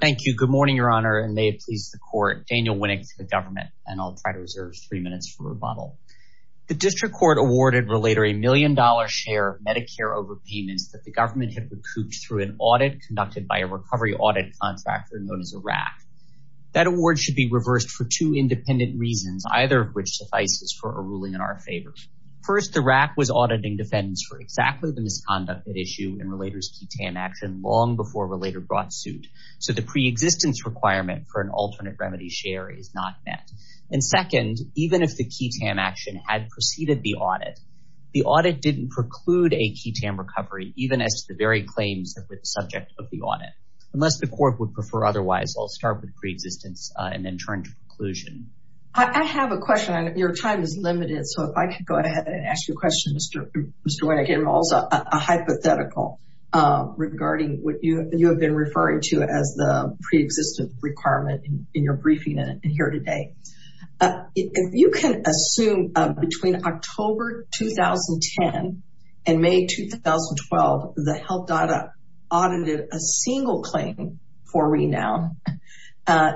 Thank you. Good morning, Your Honor, and may it please the Court, Daniel Winnick, for the Government, and I'll try to reserve three minutes for rebuttal. The District Court awarded Relator a million-dollar share of Medicare overpayments that the Government had recouped through an audit conducted by a recovery audit contractor known as ARAC. That award should be reversed for two independent reasons, either of which suffices for a ruling in our favor. First, ARAC was auditing defendants for exactly the misconduct at issue in Relator's suit, so the preexistence requirement for an alternate remedy share is not met. And second, even if the QTAM action had preceded the audit, the audit didn't preclude a QTAM recovery, even as to the very claims that were the subject of the audit. Unless the Court would prefer otherwise, I'll start with preexistence and then turn to preclusion. I have a question. Your time is limited, so if I could go ahead and ask you a question, Mr. Winnick, and also a hypothetical regarding what you have been referring to as the preexistence requirement in your briefing here today. If you can assume between October 2010 and May 2012, the health data audited a single claim for renown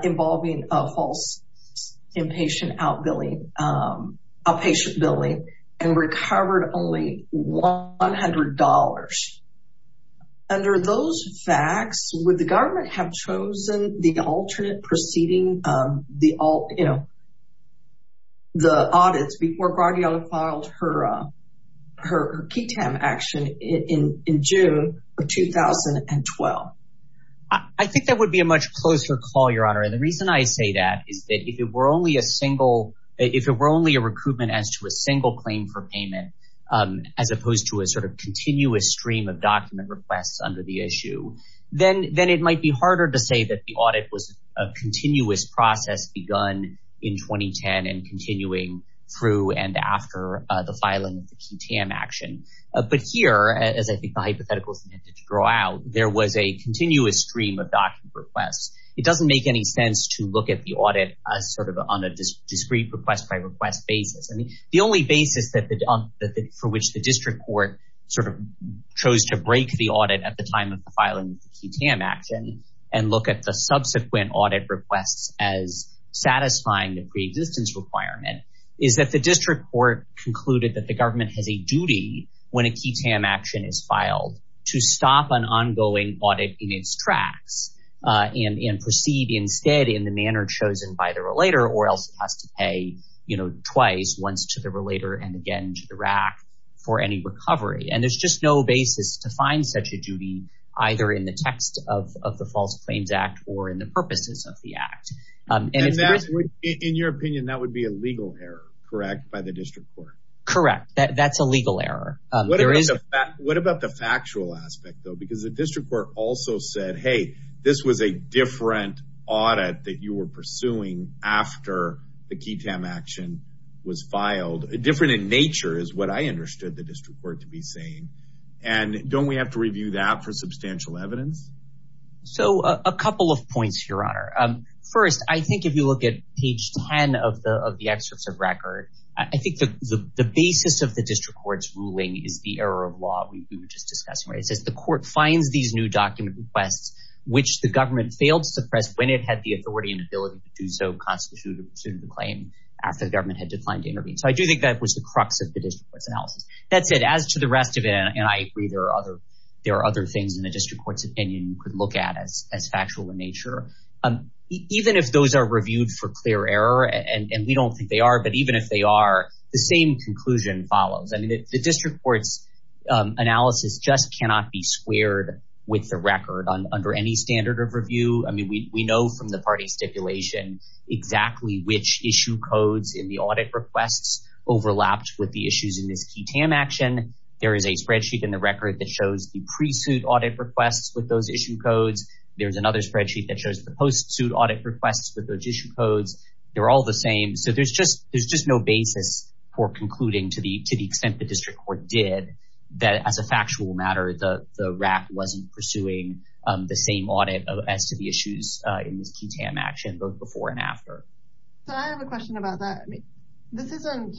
involving a false inpatient outpatient billing and recovered only $100. Under those facts, would the government have chosen the alternate proceeding, the audits before Guardiola filed her QTAM action in June of 2012? I think that would be a much closer call, Your Honor. And the reason I say that is that if it were only a recruitment as to a single claim for payment, as opposed to a sort of continuous stream of document requests under the issue, then it might be harder to say that the audit was a continuous process begun in 2010 and continuing through and after the filing of the QTAM action. But here, as I think the hypothetical is intended to draw out, there was a continuous stream of document requests. It doesn't make any sense to look at the audit as sort of on a discrete request basis. The only basis for which the district court sort of chose to break the audit at the time of the filing of the QTAM action and look at the subsequent audit requests as satisfying the preexistence requirement is that the district court concluded that the government has a duty when a QTAM action is filed to stop an ongoing audit in its tracks and proceed instead in the twice, once to the relator and again to the RAC for any recovery. And there's just no basis to find such a duty either in the text of the False Claims Act or in the purposes of the act. In your opinion, that would be a legal error, correct, by the district court? Correct. That's a legal error. What about the factual aspect, though? Because the district also said, hey, this was a different audit that you were pursuing after the QTAM action was filed. Different in nature is what I understood the district court to be saying. And don't we have to review that for substantial evidence? So a couple of points, Your Honor. First, I think if you look at page 10 of the excerpts of record, I think the basis of the district court's ruling is the error of law we were just discussing, the court finds these new document requests, which the government failed to suppress when it had the authority and ability to do so constitute a pursuit of the claim after the government had declined to intervene. So I do think that was the crux of the district court's analysis. That said, as to the rest of it, and I agree, there are other things in the district court's opinion you could look at as factual in nature. Even if those are reviewed for clear error, and we don't think they are, but even if they are, the same conclusion follows. I mean, the district court's squared with the record under any standard of review. I mean, we know from the party stipulation exactly which issue codes in the audit requests overlapped with the issues in this QTAM action. There is a spreadsheet in the record that shows the pre-suit audit requests with those issue codes. There's another spreadsheet that shows the post-suit audit requests with those issue codes. They're all the same. So there's just no basis for concluding to the extent the district court did that as a factual matter, the RAC wasn't pursuing the same audit as to the issues in this QTAM action, both before and after. So I have a question about that. This isn't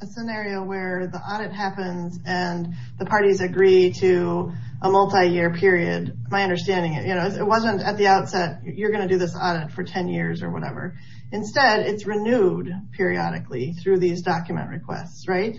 a scenario where the audit happens and the parties agree to a multi-year period. My understanding is it wasn't at the outset, you're going to do this audit for 10 years or whatever. Instead, it's renewed periodically through these document requests, right?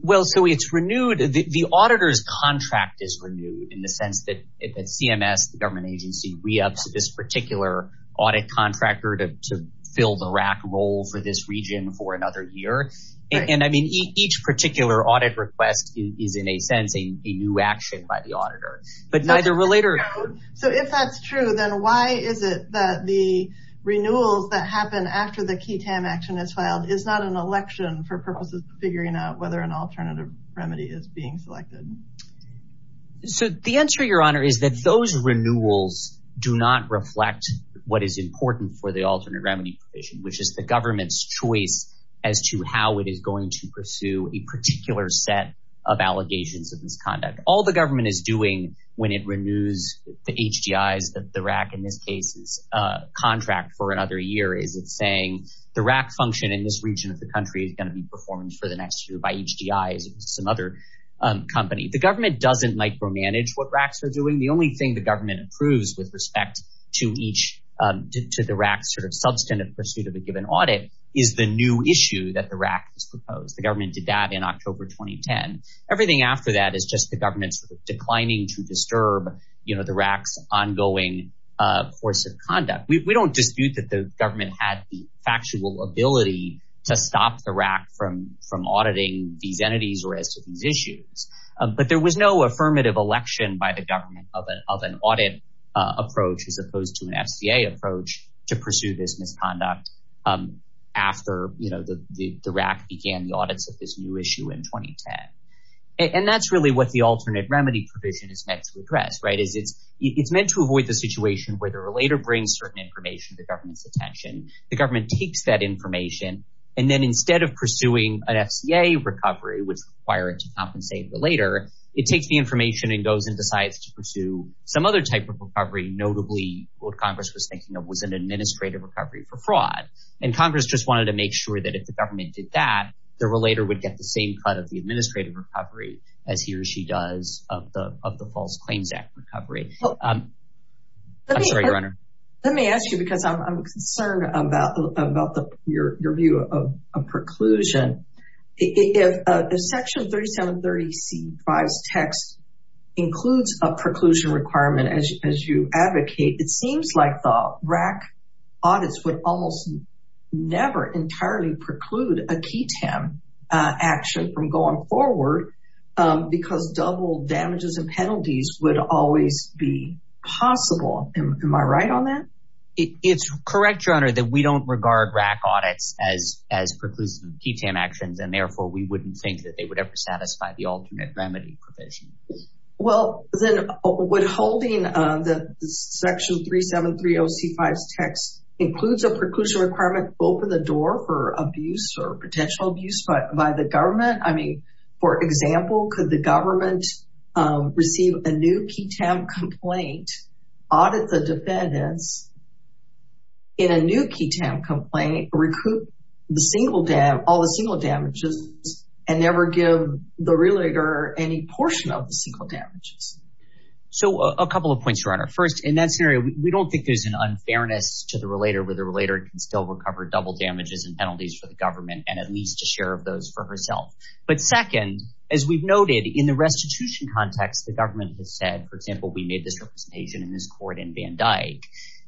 Well, so it's renewed. The auditor's contract is renewed in the sense that at CMS, the government agency re-ups this particular audit contractor to fill the RAC role for this region for another year. And I mean, each particular audit request is in a sense a new action by the auditor, but neither will later. So if that's true, then why is it that the figuring out whether an alternative remedy is being selected? So the answer, Your Honor, is that those renewals do not reflect what is important for the alternate remedy provision, which is the government's choice as to how it is going to pursue a particular set of allegations of misconduct. All the government is doing when it renews the HDIs, the RAC in this case's contract for another year, is it's saying the RAC function in this region of the country is going to be performed for the next year by HDIs and some other company. The government doesn't micromanage what RACs are doing. The only thing the government approves with respect to the RAC's sort of substantive pursuit of a given audit is the new issue that the RAC has proposed. The government did that in October 2010. Everything after that is just the government's declining to disturb the RAC's ongoing course of conduct. We don't dispute that the government had factual ability to stop the RAC from auditing these entities or as to these issues. But there was no affirmative election by the government of an audit approach as opposed to an FCA approach to pursue this misconduct after, you know, the RAC began the audits of this new issue in 2010. And that's really what the alternate remedy provision is meant to address, right? It's meant to avoid the situation where the relator brings certain information to the government's attention. The government takes that information and then instead of pursuing an FCA recovery, which require it to compensate the relator, it takes the information and goes and decides to pursue some other type of recovery. Notably, what Congress was thinking of was an administrative recovery for fraud. And Congress just wanted to make sure that if the government did that, the relator would get the same cut of the administrative recovery as he or she does of the False Claims Act recovery. I'm sorry, Your Honor. Let me ask you because I'm concerned about your view of a preclusion. If Section 3730C5's text includes a preclusion requirement, as you advocate, it seems like the RAC audits would almost never entirely preclude a key TAM action from going forward because double damages and penalties would always be possible. Am I right on that? It's correct, Your Honor, that we don't regard RAC audits as preclusive key TAM actions and therefore we wouldn't think that they would ever satisfy the alternate remedy provision. Well, then would holding the Section 3730C5's text includes a preclusion requirement to open the door for abuse or potential abuse by the government? For example, could the government receive a new key TAM complaint, audit the defendants in a new key TAM complaint, recoup all the single damages, and never give the relator any portion of the single damages? A couple of points, Your Honor. First, in that scenario, we don't think there's an unfairness to the relator where the relator can still recover double damages and penalties for the government and at least a share of those for herself. But second, as we've noted, in the restitution context, the government has said, for example, we made this representation in this court in Van Dyke,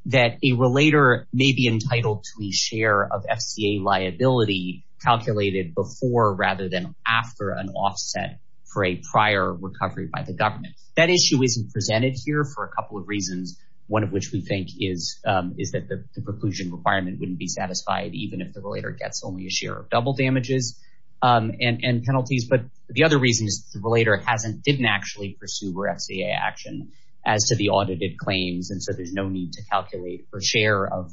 that a relator may be entitled to a share of FCA liability calculated before rather than after an offset for a prior recovery by the government. That issue isn't presented here for a couple of reasons, one of which we think is that the preclusion requirement wouldn't be satisfied even if the relator gets only a share of double damages and penalties. But the other reason is the relator didn't actually pursue her FCA action as to the audited claims, and so there's no need to calculate for a share of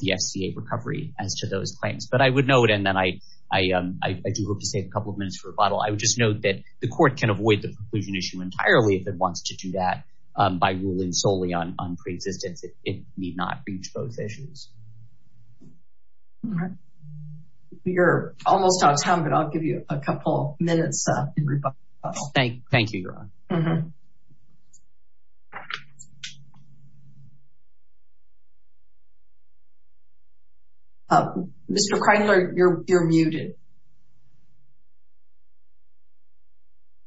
the FCA recovery as to those claims. But I would note, and then I do hope to save a couple of minutes for rebuttal, I would just note that the court can avoid the preclusion issue entirely if it wants to do that by ruling solely on pre-existence. It need not reach those issues. You're almost out of time, but I'll give you a couple minutes. Thank you, Your Honor. Mr. Kreindler, you're muted.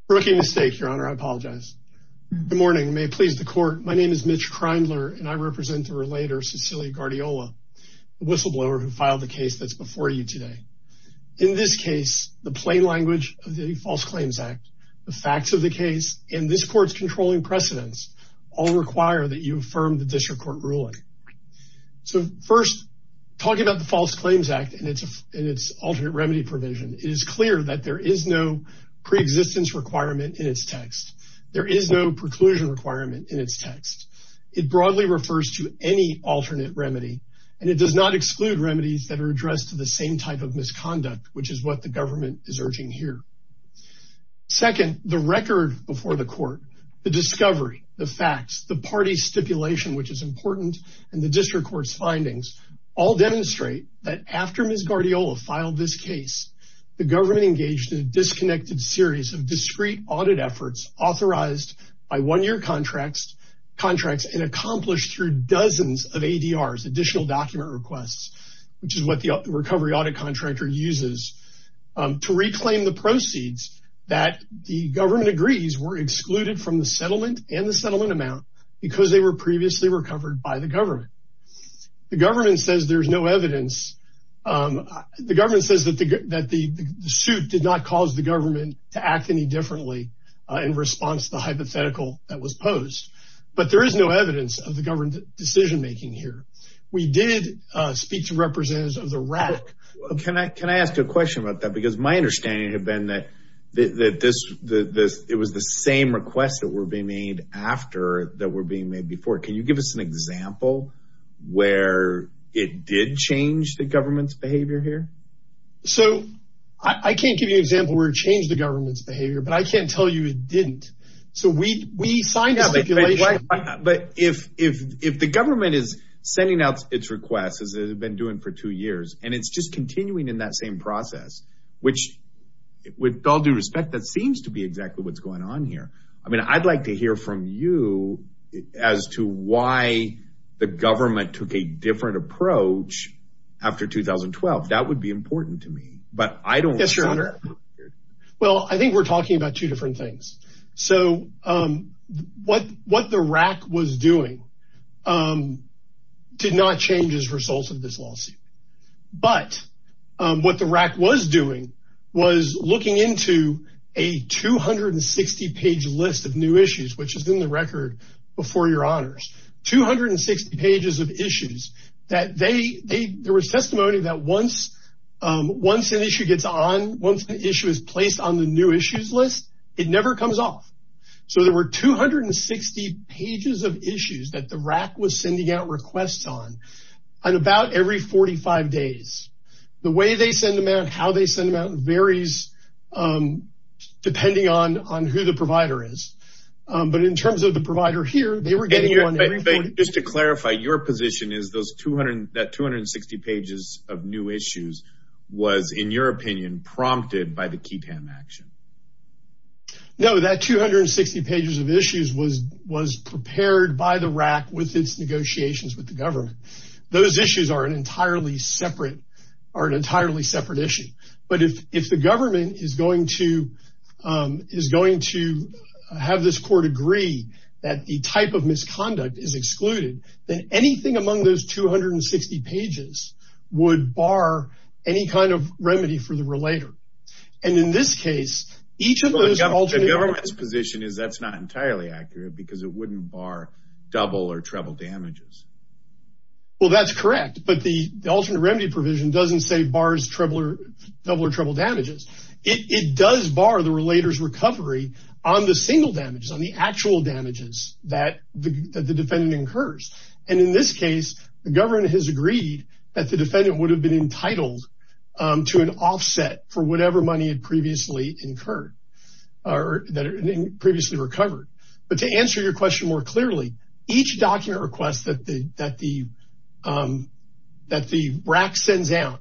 I made a mistake, Your Honor. I apologize. Good morning. May it please the court, my name is Mitch Kreindler, and I represent the relator Cecilia Guardiola, the whistleblower who filed the case that's before you today. In this case, the plain language of the False Claims Act, the facts of the case, and this court's controlling precedence all require that you affirm the district court ruling. So first, talking about the False Claims Act and its alternate remedy provision, it is clear that there is no pre-existence requirement in its text. There is no preclusion requirement in its text. It broadly refers to any alternate remedy, and it does not exclude remedies that are addressed to the same type of misconduct, which is what the government is urging here. Second, the record before the court, the discovery, the facts, the party's stipulation, which is important, and the district court's findings all demonstrate that after Ms. Guardiola filed this case, the government engaged in a disconnected series of discrete audit efforts authorized by one-year contracts and accomplished through dozens of ADRs, additional document requests, which is what the recovery audit contractor uses, to reclaim the proceeds that the government agrees were excluded from the settlement and the settlement amount because they were previously recovered by the government. The government says there's no evidence. The government says that the suit did not cause the government to act any differently in response to the hypothetical that was posed, but there is no evidence of the government decision-making here. We did speak to representatives of the RAC. Can I ask a question about that? Because my understanding had been that it was the same requests that were being made after that were being made before. Can you give us an example where it did change the government's behavior here? So I can't give you an example where it changed the government's behavior, but I can't tell you it didn't. So we signed a stipulation. But if the government is sending out its requests, as it has been doing for two years, and it's just continuing in that same process, which with all due respect, that seems to be why the government took a different approach after 2012. That would be important to me. Well, I think we're talking about two different things. So what the RAC was doing did not change as a result of this lawsuit. But what the RAC was doing was looking into a 260-page list of new issues, which is in the record before your honors. 260 pages of issues. There was testimony that once an issue gets on, once the issue is placed on the new issues list, it never comes off. So there were 260 pages of issues that the RAC was sending out requests on about every 45 days. The way they send them out, how they send them out varies depending on who the provider is. But in terms of the provider here, they were getting one every 40 days. And just to clarify, your position is that 260 pages of new issues was, in your opinion, prompted by the KETAM action? No, that 260 pages of issues was prepared by the RAC with its negotiations with the government. Those issues are an entirely separate issue. But if the government is going to have this court agree that the type of misconduct is excluded, then anything among those 260 pages would bar any kind of remedy for the relator. And in this case, each of those alternate remedies... The government's position is that's not entirely accurate because it wouldn't bar double or treble damages. Well, that's correct. But the alternate remedy provision doesn't say bars double or treble damages. It does bar the relator's recovery on the single damages, on the actual damages that the defendant incurs. And in this case, the government has agreed that the defendant would have been entitled to an offset for whatever money had previously incurred, or that had previously recovered. But to answer your question more clearly, each document request that the RAC sends out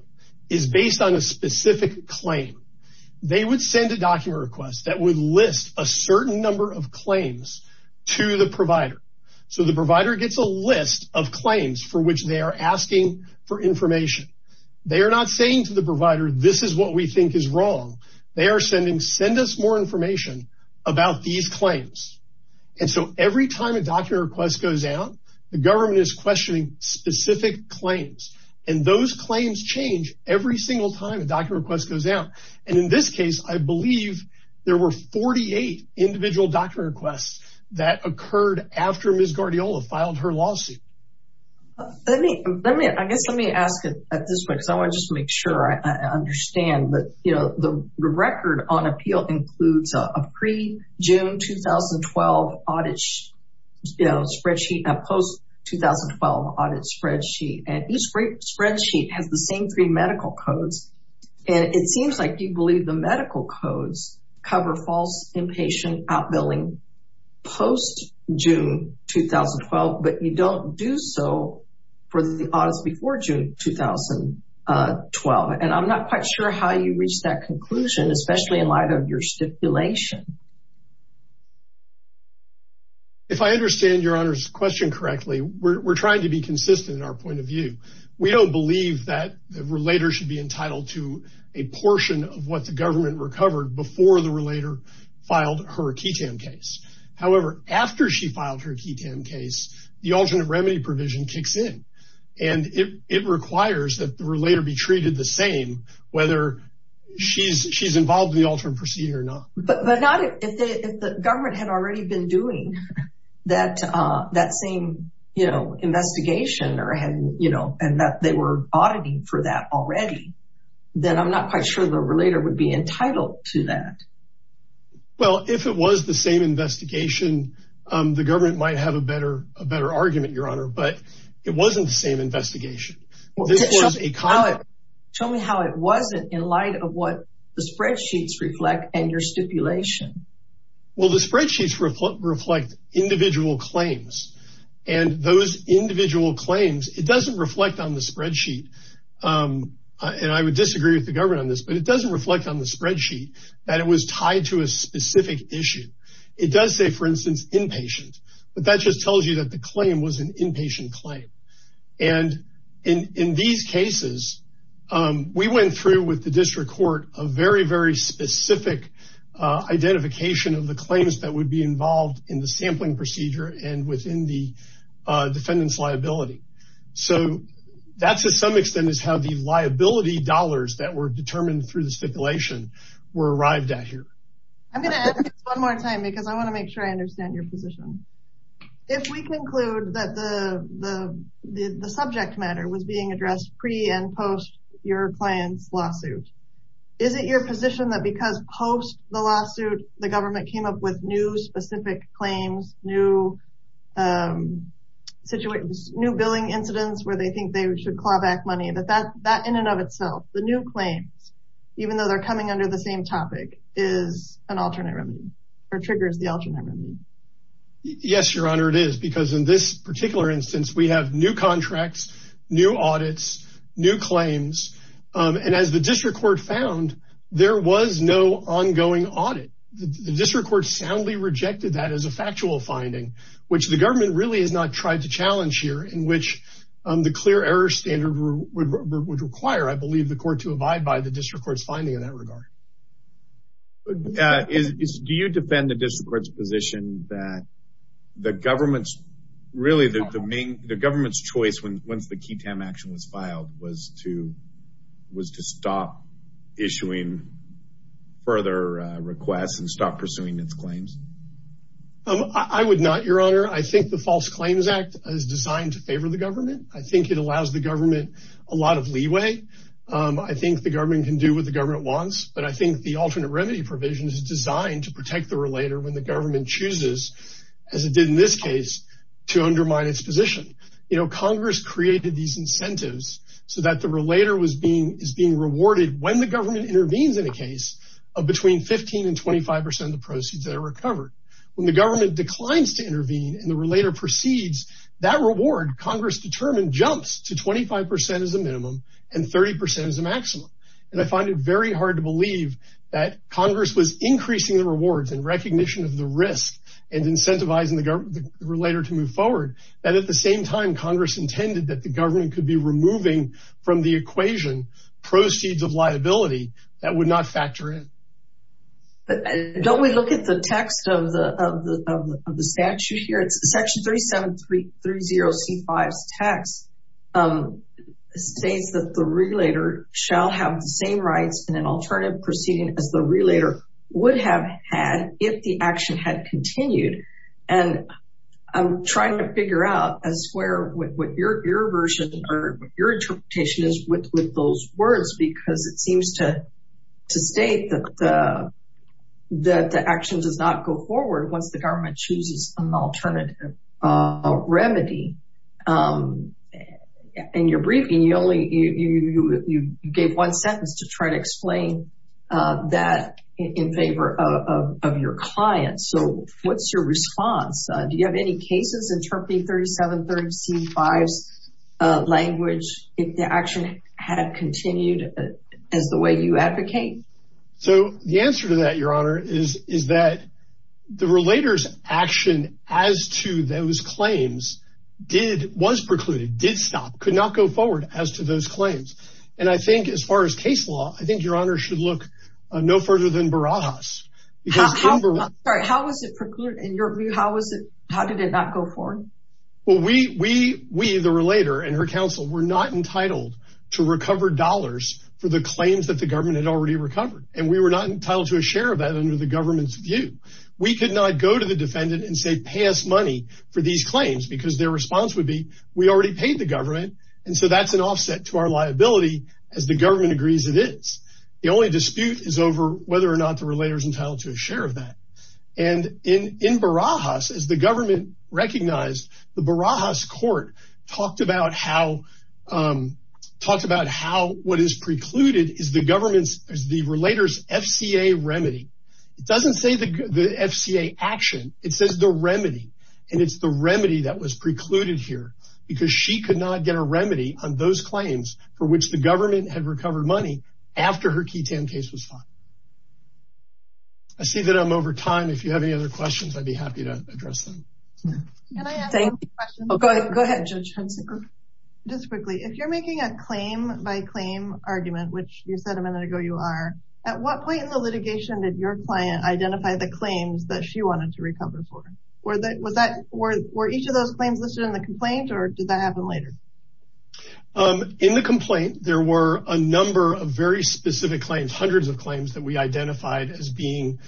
is based on a specific claim. They would send a document request that would list a certain number of claims to the provider. So the provider gets a list of claims for which they are asking for information. They are not saying to the provider, this is what we think is wrong. They are sending, send us more information about these claims. And so every time a document request goes out, the government is questioning specific claims. And those claims change every single time a document request goes out. And in this case, I believe there were 48 individual document requests that occurred after Ms. Guardiola filed her lawsuit. Let me, let me, I guess let me ask it at this point, because I want to just make sure I understand that, you know, the record on appeal includes a pre-June 2012 audit, you know, spreadsheet, a post-2012 audit spreadsheet. And each spreadsheet has the same three medical codes. And it seems like you believe the medical codes cover false, inpatient, outbilling post-June 2012, but you don't do so for the audits before June 2012. And I'm not quite sure how you reached that conclusion, especially in light of your stipulation. If I understand your Honor's question correctly, we're trying to be consistent in our point of view. We don't believe that the relator should be entitled to a portion of what the government recovered before the relator filed her KETAM case. However, after she filed her KETAM case, the alternate remedy provision kicks in. And it requires that the relator be treated the same, whether she's involved in the alternate procedure or not. But not if the government had already been doing that, that same, you know, investigation or had, you know, and that they were auditing for that already, then I'm not quite sure the to that. Well, if it was the same investigation, the government might have a better argument, Your Honor, but it wasn't the same investigation. Tell me how it wasn't in light of what the spreadsheets reflect and your stipulation. Well, the spreadsheets reflect individual claims and those individual claims, it doesn't reflect on the spreadsheet. And I would disagree with the government on this, but it doesn't reflect on the spreadsheet that it was tied to a specific issue. It does say, for instance, inpatient, but that just tells you that the claim was an inpatient claim. And in these cases, we went through with the district court a very, very specific identification of the claims that would be involved in the sampling procedure and within the defendant's liability. So that's to some extent is how the liability dollars that were determined through the stipulation were arrived at here. I'm going to ask this one more time because I want to make sure I understand your position. If we conclude that the subject matter was being addressed pre and post your client's lawsuit, is it your position that because post the lawsuit, the government came up with new specific claims, new billing incidents where they think they should claw back money, that in and of itself, the new claims, even though they're coming under the same topic, is an alternate remedy or triggers the alternate remedy? Yes, Your Honor, it is because in this particular instance, we have new contracts, new audits, new claims. And as the district court found, there was no ongoing audit. The district court soundly rejected that as a factual finding, which the government really has not tried to challenge here in which the clear error standard would require, I believe, the court to abide by the district court's finding in that regard. Do you defend the district court's position that the government's really the main the government's choice when once the key time action was filed was to was to stop issuing further requests and stop pursuing its claims? I would not, Your Honor. I think the False Claims Act is designed to favor the government. I think it allows the government a lot of leeway. I think the government can do what the government wants, but I think the alternate remedy provision is designed to protect the relator when the government intervenes in a case of between 15 and 25 percent of the proceeds that are recovered. When the government declines to intervene and the relator proceeds, that reward, Congress determined, jumps to 25 percent as a minimum and 30 percent as a maximum. And I find it very hard to believe that Congress was increasing the rewards in recognition of the and incentivizing the relator to move forward, and at the same time, Congress intended that the government could be removing from the equation proceeds of liability that would not factor in. Don't we look at the text of the statute here? It's Section 3730C5's text. It states that the relator shall have the same rights in an alternative proceeding as the relator would have had if the action had continued. And I'm trying to figure out as to what your interpretation is with those words, because it seems to state that the action does not go forward once the government chooses an alternative remedy. In your briefing, you gave one sentence to try to explain that in favor of your client. So what's your response? Do you have any cases interpreting 3730C5's language if the action had continued as the way you advocate? So the answer to that, Your Honor, is that the relator's action as to those claims did, was precluded, did stop, could not go forward as to those claims. And I think, as far as case law, I think Your Honor should look no further than Barajas. Sorry, how was it precluded? In your view, how did it not go forward? Well, we, the relator and her counsel, were not entitled to recover dollars for the claims that the government had already recovered. And we were not entitled to a share of that under the government's view. We could not go to the defendant and say, pay us money for these claims, because their response would be, we already paid the government, and so that's offset to our liability, as the government agrees it is. The only dispute is over whether or not the relator's entitled to a share of that. And in Barajas, as the government recognized, the Barajas court talked about how, talked about how what is precluded is the government's, the relator's FCA remedy. It doesn't say the FCA action. It says the remedy. And it's the claims for which the government had recovered money after her Keytan case was filed. I see that I'm over time. If you have any other questions, I'd be happy to address them. Can I ask a question? Go ahead, Judge Hensinger. Just quickly, if you're making a claim by claim argument, which you said a minute ago you are, at what point in the litigation did your client identify the claims that she wanted to recover for? Were each of those claims listed in the complaint? In the complaint, there were a number of very specific claims, hundreds of claims that we identified as being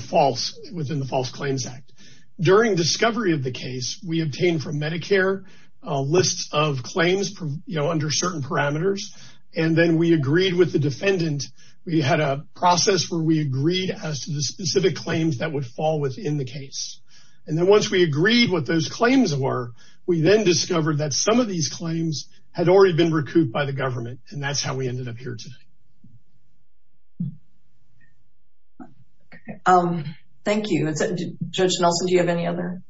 false within the False Claims Act. During discovery of the case, we obtained from Medicare lists of claims, you know, under certain parameters. And then we agreed with the defendant. We had a process where we agreed as to the specific claims that would fall within the case. And then once we agreed what those claims were, we then discovered that some of these claims had already been recouped by the government. And that's how we ended up here today. Thank you. Judge Nelson, do you have any other?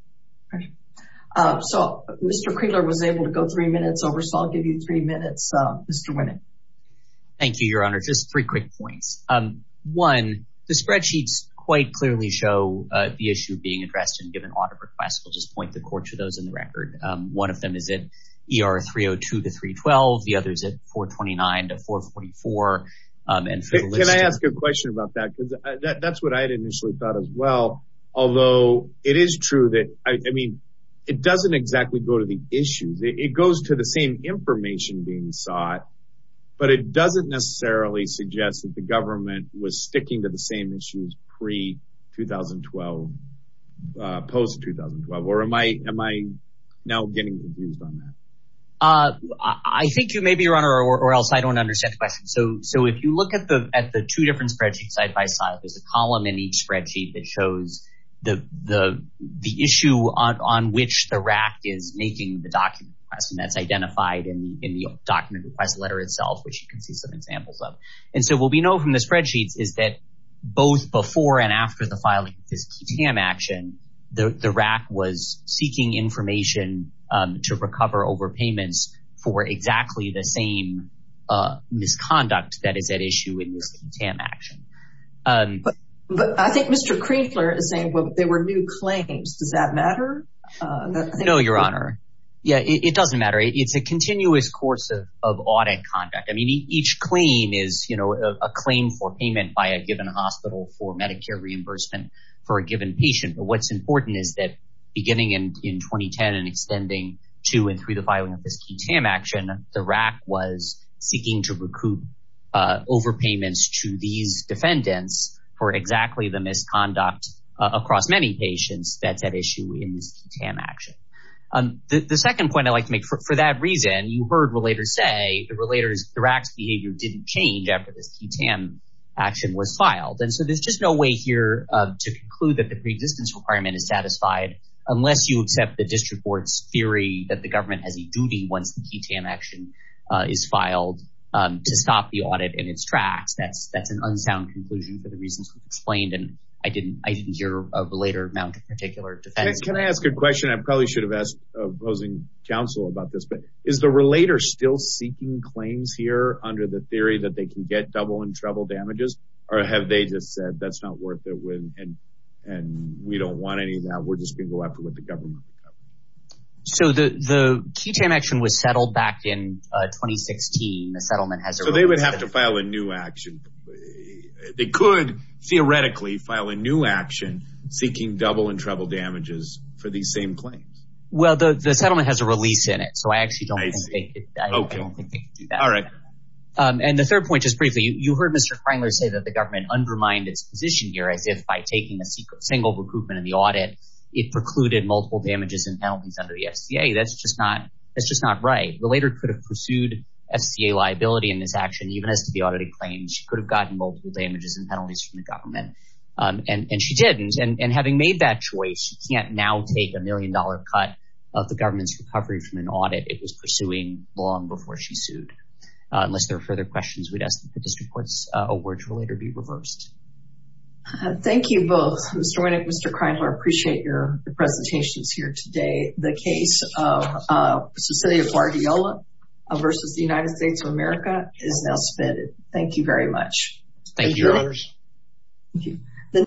So, Mr. Kriegler was able to go three minutes over, so I'll give you three minutes, Mr. Winant. Thank you, Your Honor. Just three quick points. One, the spreadsheets quite clearly show the issue being addressed in given audit requests. We'll just point the court to those in the record. One of them is at ER 302 to 312. The other is at 429 to 444. Can I ask a question about that? Because that's what I had initially thought as well. Although it is true that, I mean, it doesn't exactly go to the issues. It goes to the same information being sought, but it doesn't necessarily suggest that the government was sticking to the same issues pre-2012, post-2012. Or am I now getting abused on that? I think you may be, Your Honor, or else I don't understand the question. So, if you look at the two different spreadsheets side by side, there's a column in each spreadsheet that shows the issue on which the RAC is making the document request. And that's identified in the document request letter itself, which you can see some examples of. And so, what we know from the spreadsheets is that both before and after the filing of this QTAM action, the RAC was seeking information to recover overpayments for exactly the same misconduct that is at issue in this QTAM action. But I think Mr. Kriegler is saying there were new claims. Does that matter? No, Your Honor. Yeah, it doesn't matter. It's a continuous course of audit conduct. I mean, each claim is, you know, a claim for payment by a given hospital for Medicare reimbursement for a given patient. But what's important is that beginning in 2010 and extending to and through the filing of this QTAM action, the RAC was seeking to recoup overpayments to these defendants for exactly the misconduct across many patients that's at issue in this QTAM action. The second point I'd like to make, for that reason, you heard relators say the RAC's behavior didn't change after this QTAM action was filed. And so, there's just no way here to conclude that the pre-distance requirement is satisfied unless you accept the district court's theory that the government has a duty once the QTAM action is filed to stop the audit in its tracks. That's an unsound conclusion for the reasons we've explained, and I didn't hear a relator mount particular defense. Can I ask a question? I probably should have asked a opposing counsel about this, but is the relator still seeking claims here under the theory that they can get double in trouble damages, or have they just said that's not worth it and we don't want any of that, we're just going to go after what the government can cover? So, the QTAM action was settled back in 2016. So, they would have to file a new action. They could theoretically file a new action seeking double in trouble damages for these same claims. Well, the settlement has a release in it, so I actually don't think that. All right. And the third point, just briefly, you heard Mr. Frangler say that the government undermined its position here as if by taking a single recoupment in the audit, it precluded multiple damages and penalties under the SCA. That's just not right. Relator could have pursued SCA liability in this action, even as to the audited claims. She could have gotten multiple damages and penalties from the government, and she did, and having made that choice, she can't now take a million-dollar cut of the government's recovery from an audit it was pursuing long before she sued. Unless there are further questions, we'd ask that the district court's award will later be reversed. Thank you both. Mr. Winnick, Mr. Kreinler, I appreciate your presentations here today. The case of Cecilia Guardiola versus the United States of America is now submitted. Thank you very much. Thank you.